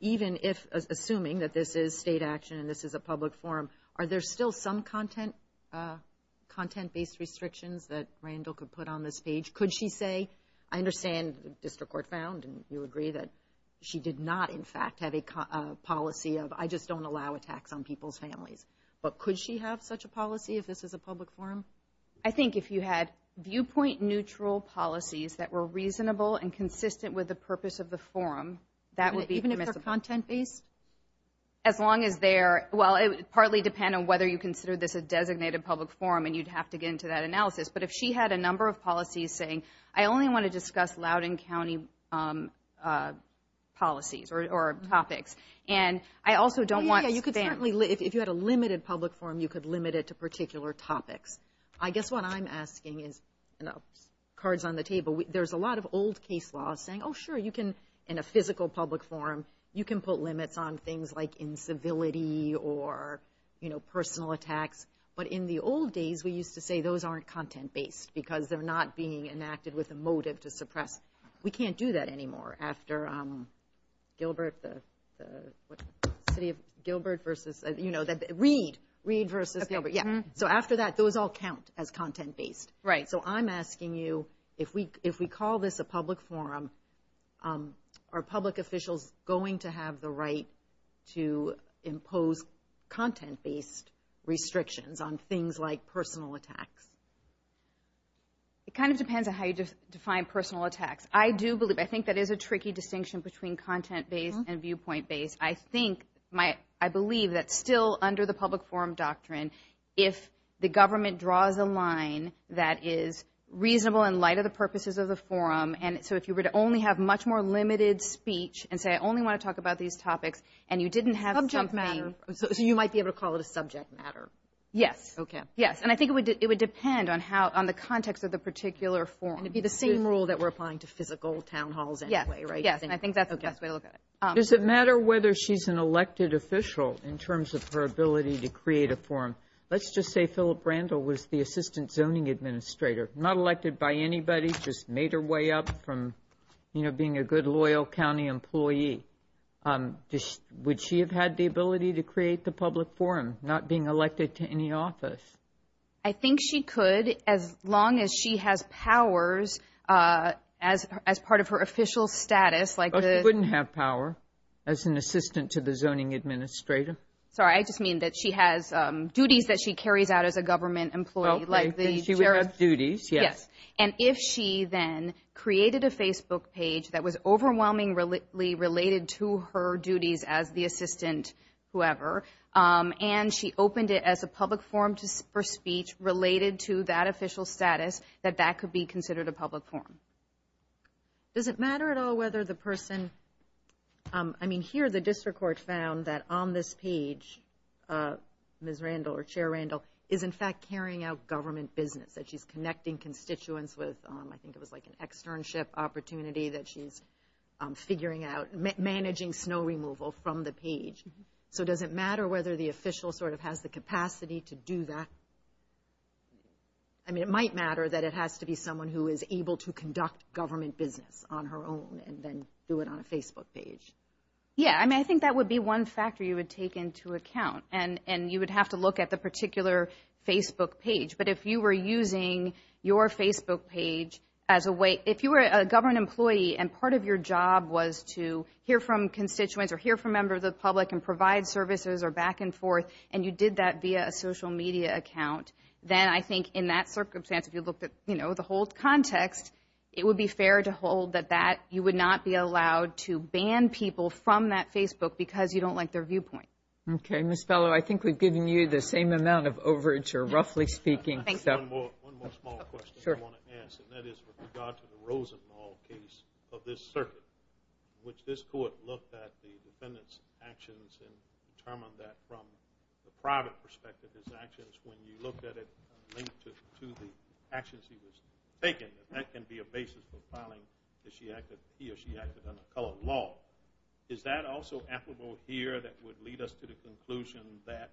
even if, assuming that this is state action and this is a public forum, are there still some content-based restrictions that Randall could put on this page? Could she say, I understand the district court found and you agree that she did not, in fact, have a policy of I just don't allow attacks on people's families, but could she have such a policy if this was a public forum? I think if you had viewpoint-neutral policies that were reasonable and consistent with the purpose of the forum, that would be permissible. Even if they're content-based? As long as they're, well, it would partly depend on whether you consider this a designated public forum and you'd have to get into that analysis, but if she had a number of policies saying, I only want to discuss Loudoun County policies or topics, and I also don't want spam. If you had a limited public forum, you could limit it to particular topics. I guess what I'm asking is, cards on the table, there's a lot of old case laws saying, oh, sure, you can, in a physical public forum, you can put limits on things like incivility or personal attacks, but in the old days, we used to say those aren't content-based because they're not being enacted with a motive to suppress. We can't do that anymore after Gilbert versus, you know, Reed versus Gilbert. So after that, those all count as content-based. So I'm asking you, if we call this a public forum, are public officials going to have the right to impose content-based restrictions on things like personal attacks? It kind of depends on how you define personal attacks. I do believe, I think that is a tricky distinction between content-based and viewpoint-based. I think, I believe that still under the public forum doctrine, if the government draws a line that is reasonable in light of the purposes of the forum, and so if you were to only have much more limited speech and say, I only want to talk about these topics, and you didn't have something. So you might be able to call it a subject matter. Yes. Okay. Yes, and I think it would depend on the context of the particular forum. And it would be the same rule that we're applying to physical town halls anyway, right? Yes, and I think that's the best way to look at it. Does it matter whether she's an elected official in terms of her ability to create a forum? Let's just say Philip Randall was the Assistant Zoning Administrator, not elected by anybody, just made her way up from, you know, being a good, loyal county employee. Would she have had the ability to create the public forum, not being elected to any office? I think she could as long as she has powers as part of her official status. But she wouldn't have power as an assistant to the Zoning Administrator. Sorry, I just mean that she has duties that she carries out as a government employee. Okay, she would have duties, yes. And if she then created a Facebook page that was overwhelmingly related to her duties as the assistant, whoever, and she opened it as a public forum for speech related to that official status, that that could be considered a public forum. Does it matter at all whether the person, I mean, here the district court found that on this page, Ms. Randall or Chair Randall is, in fact, carrying out government business, that she's connecting constituents with, I think it was like an externship opportunity that she's figuring out, managing snow removal from the page. So does it matter whether the official sort of has the capacity to do that? I mean, it might matter that it has to be someone who is able to conduct government business on her own and then do it on a Facebook page. Yeah, I mean, I think that would be one factor you would take into account. And you would have to look at the particular Facebook page. But if you were using your Facebook page as a way, if you were a government employee and part of your job was to hear from constituents or hear from members of the public and provide services or back and forth, and you did that via a social media account, then I think in that circumstance, if you looked at, you know, the whole context, it would be fair to hold that you would not be allowed to ban people from that Facebook because you don't like their viewpoint. Okay. Ms. Fellow, I think we've given you the same amount of overage, or roughly speaking. One more small question I want to ask, and that is with regard to the Rosenwald case of this circuit, in which this Court looked at the defendant's actions and determined that from the private perspective his actions, when you looked at it linked to the actions he was taking, that that can be a basis for filing that he or she acted under colored law. Is that also applicable here that would lead us to the conclusion that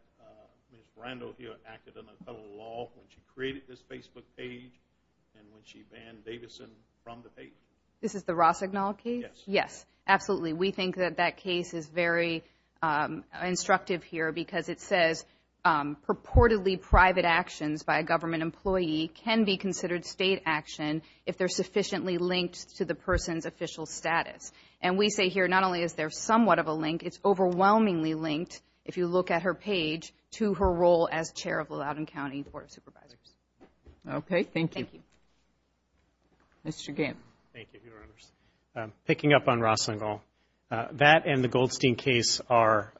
Ms. Brando here acted under colored law when she created this Facebook page and when she banned Davidson from the page? This is the Rosenwald case? Yes. Yes, absolutely. We think that that case is very instructive here because it says purportedly private actions by a government employee can be considered state action if they're sufficiently linked to the person's official status. And we say here not only is there somewhat of a link, it's overwhelmingly linked, if you look at her page, to her role as chair of Loudoun County Board of Supervisors. Okay. Thank you. Thank you. Mr. Gant. Thank you, Your Honors. Picking up on Rosenwald, that and the Goldstein case are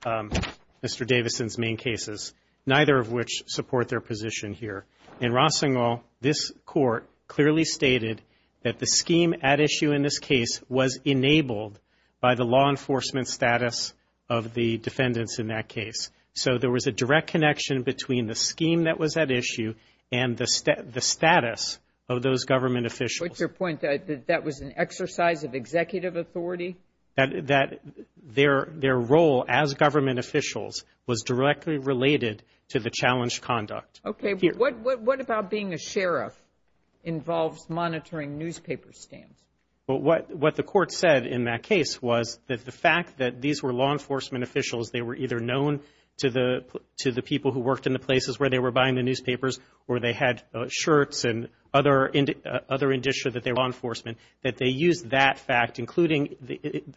Mr. Davidson's main cases, neither of which support their position here. In Rosenwald, this court clearly stated that the scheme at issue in this case was enabled by the law enforcement status of the defendants in that case. So there was a direct connection between the scheme that was at issue and the status of those government officials. What's your point, that that was an exercise of executive authority? That their role as government officials was directly related to the challenged conduct. Okay. What about being a sheriff involves monitoring newspaper stamps? Well, what the court said in that case was that the fact that these were law enforcement officials, they were either known to the people who worked in the places where they were buying the newspapers or they had shirts and other indicia that they were law enforcement, that they used that fact, including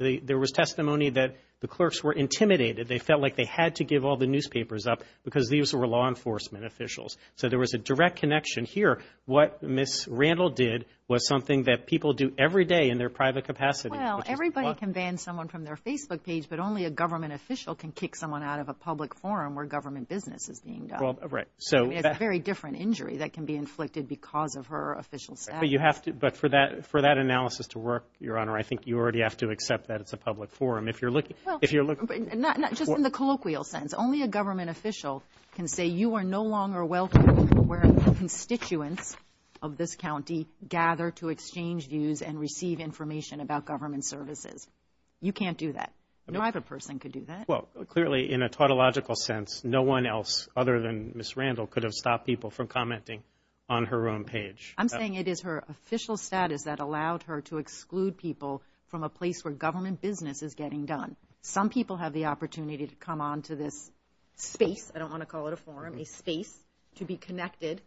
there was testimony that the clerks were intimidated. They felt like they had to give all the newspapers up because these were law enforcement officials. So there was a direct connection here. What Ms. Randall did was something that people do every day in their private capacity. Well, everybody can ban someone from their Facebook page, but only a government official can kick someone out of a public forum where government business is being done. Right. It's a very different injury that can be inflicted because of her official status. But for that analysis to work, Your Honor, I think you already have to accept that it's a public forum. Not just in the colloquial sense. Only a government official can say, you are no longer welcome where constituents of this county gather to exchange views and receive information about government services. You can't do that. No other person could do that. Well, clearly in a tautological sense, no one else other than Ms. Randall could have stopped people from commenting on her own page. I'm saying it is her official status that allowed her to exclude people from a place where government business is getting done. Some people have the opportunity to come onto this space, I don't want to call it a forum, a space, to be connected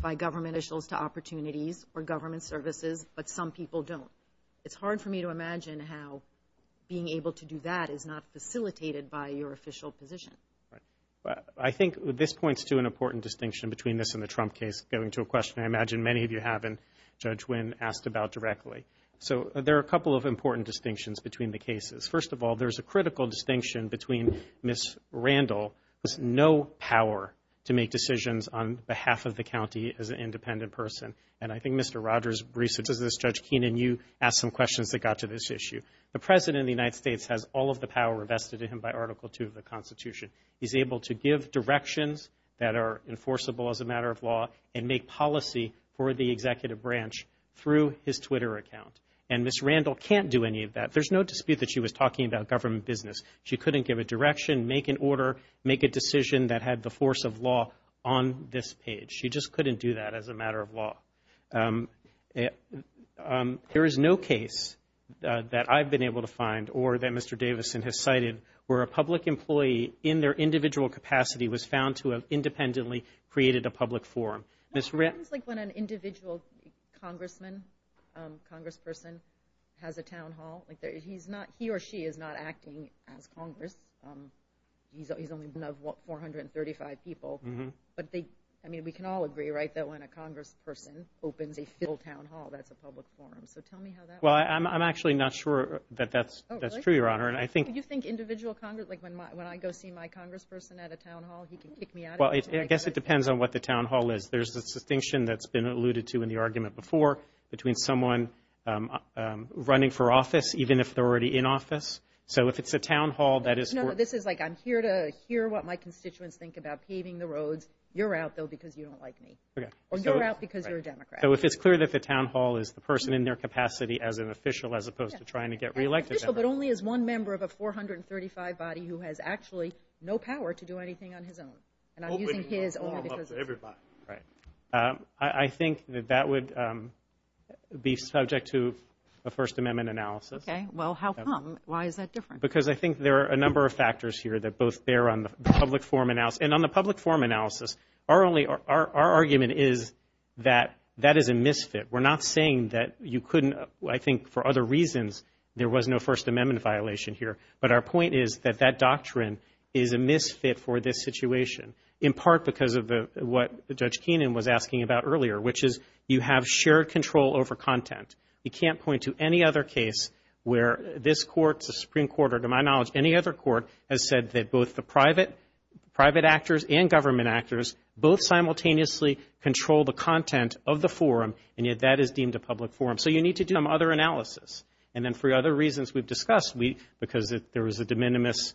by government officials to opportunities or government services, but some people don't. It's hard for me to imagine how being able to do that is not facilitated by your official position. I think this points to an important distinction between this and the Trump case. Going to a question I imagine many of you haven't, Judge Wynn, asked about directly. So there are a couple of important distinctions between the cases. First of all, there's a critical distinction between Ms. Randall. There's no power to make decisions on behalf of the county as an independent person, and I think Mr. Rogers' research is this, Judge Keenan, you asked some questions that got to this issue. The President of the United States has all of the power vested in him by Article II of the Constitution. He's able to give directions that are enforceable as a matter of law and make policy for the executive branch through his Twitter account. And Ms. Randall can't do any of that. There's no dispute that she was talking about government business. She couldn't give a direction, make an order, make a decision that had the force of law on this page. She just couldn't do that as a matter of law. There is no case that I've been able to find or that Mr. Davison has cited where a public employee in their individual capacity was found to have independently created a public forum. It's like when an individual congressman, congressperson, has a town hall. He or she is not acting as congress. He's only been of 435 people. But, I mean, we can all agree, right, that when a congressperson opens a full town hall, that's a public forum. So tell me how that works. Well, I'm actually not sure that that's true, Your Honor. Do you think individual congress, like when I go see my congressperson at a town hall, he can kick me out of it? Well, I guess it depends on what the town hall is. There's a distinction that's been alluded to in the argument before between someone running for office, even if they're already in office. So if it's a town hall that is for – No, no, this is like I'm here to hear what my constituents think about paving the roads. You're out, though, because you don't like me. Okay. Or you're out because you're a Democrat. So if it's clear that the town hall is the person in their capacity as an official as opposed to trying to get reelected. Well, but only as one member of a 435 body who has actually no power to do anything on his own. And I'm using his only because of this. Right. I think that that would be subject to a First Amendment analysis. Okay. Well, how come? Why is that different? Because I think there are a number of factors here that both bear on the public forum analysis. And on the public forum analysis, our argument is that that is a misfit. We're not saying that you couldn't, I think, for other reasons, there was no First Amendment violation here. But our point is that that doctrine is a misfit for this situation, in part because of what Judge Keenan was asking about earlier, which is you have shared control over content. You can't point to any other case where this Court, the Supreme Court, or to my knowledge any other court, has said that both the private actors and government actors both simultaneously control the content of the forum and yet that is deemed a public forum. So you need to do some other analysis. And then for other reasons we've discussed, because there was a de minimis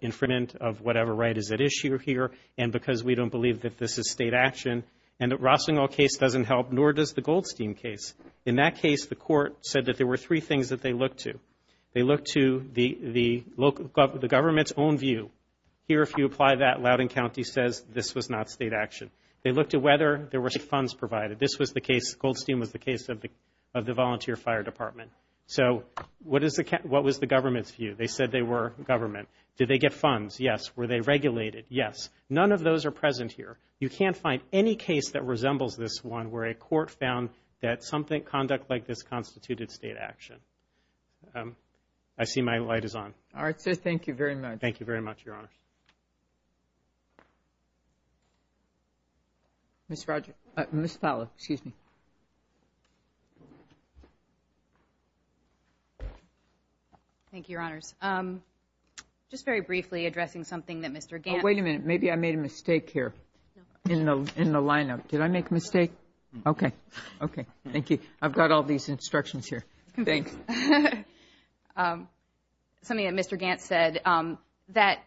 infringement of whatever right is at issue here and because we don't believe that this is state action, and the Rossingall case doesn't help, nor does the Goldstein case. In that case, the Court said that there were three things that they looked to. They looked to the government's own view. Here, if you apply that, Loudoun County says this was not state action. They looked at whether there were funds provided. This was the case, Goldstein was the case of the volunteer fire department. So what was the government's view? They said they were government. Did they get funds? Yes. Were they regulated? Yes. None of those are present here. You can't find any case that resembles this one where a court found that conduct like this constituted state action. I see my light is on. All right, sir. Thank you very much. Thank you very much, Your Honor. Ms. Fowler, excuse me. Thank you, Your Honors. Just very briefly addressing something that Mr. Gantt Oh, wait a minute. Maybe I made a mistake here in the lineup. Did I make a mistake? Okay. Okay. Thank you. I've got all these instructions here. Thanks. Something that Mr. Gantt said that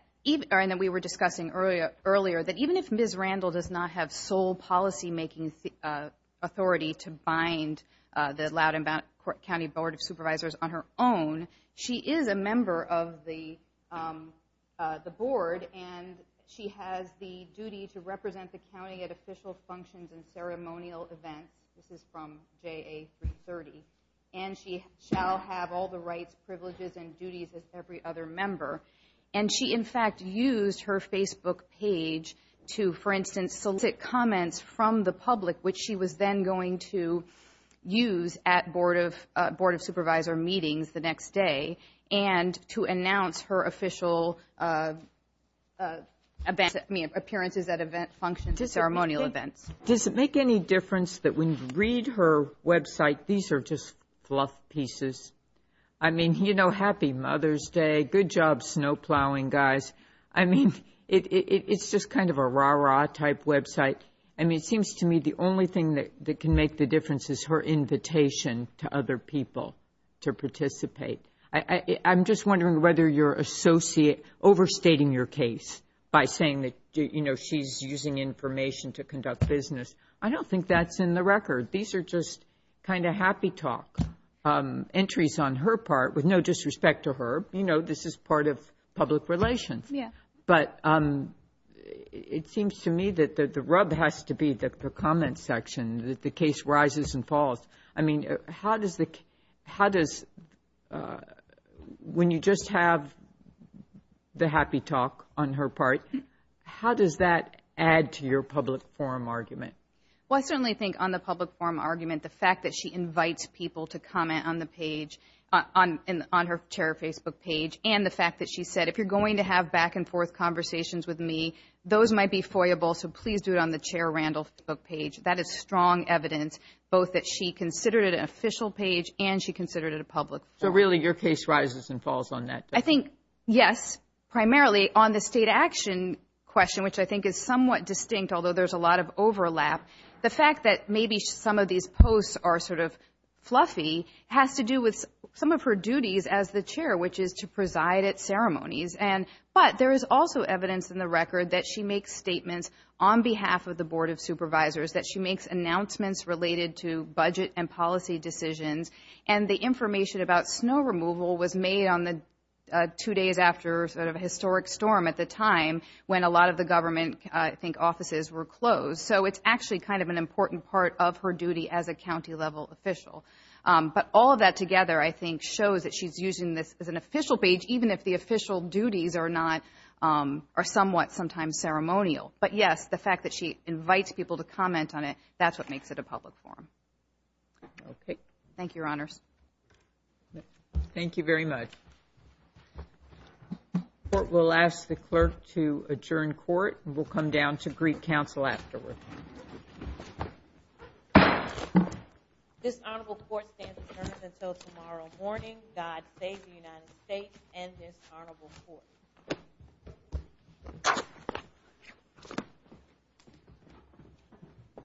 we were discussing earlier, that even if Ms. Randall does not have sole policymaking authority to bind the Loudoun County Board of Supervisors on her own, she is a member of the board, and she has the duty to represent the county at official functions and ceremonial events. This is from JA 330. And she shall have all the rights, privileges, and duties as every other member. And she, in fact, used her Facebook page to, for instance, solicit comments from the public, which she was then going to use at Board of Supervisor meetings the next day, and to announce her official appearances at event functions and ceremonial events. Does it make any difference that when you read her website, these are just fluff pieces? I mean, you know, happy Mother's Day. Good job snowplowing, guys. I mean, it's just kind of a rah-rah type website. I mean, it seems to me the only thing that can make the difference is her invitation to other people to participate. I'm just wondering whether you're overstating your case by saying that, you know, she's using information to conduct business. I don't think that's in the record. These are just kind of happy talk entries on her part, with no disrespect to her. You know, this is part of public relations. Yeah. But it seems to me that the rub has to be the comments section, that the case rises and falls. I mean, how does the – when you just have the happy talk on her part, how does that add to your public forum argument? Well, I certainly think on the public forum argument, the fact that she invites people to comment on the page, on her chair Facebook page, and the fact that she said, if you're going to have back-and-forth conversations with me, those might be foyable, so please do it on the chair Randall Facebook page. That is strong evidence, both that she considered it an official page and she considered it a public forum. So, really, your case rises and falls on that? I think, yes, primarily on the state action question, which I think is somewhat distinct, although there's a lot of overlap. The fact that maybe some of these posts are sort of fluffy has to do with some of her duties as the chair, which is to preside at ceremonies. But there is also evidence in the record that she makes statements on behalf of the Board of Supervisors, that she makes announcements related to budget and policy decisions, and the information about snow removal was made on the two days after sort of a historic storm at the time, when a lot of the government, I think, offices were closed. So it's actually kind of an important part of her duty as a county-level official. But all of that together, I think, shows that she's using this as an official page, even if the official duties are somewhat sometimes ceremonial. But, yes, the fact that she invites people to comment on it, that's what makes it a public forum. Thank you, Your Honors. Thank you very much. We'll ask the clerk to adjourn court, and we'll come down to greet counsel afterward. This honorable court stands adjourned until tomorrow morning. God save the United States and this honorable court.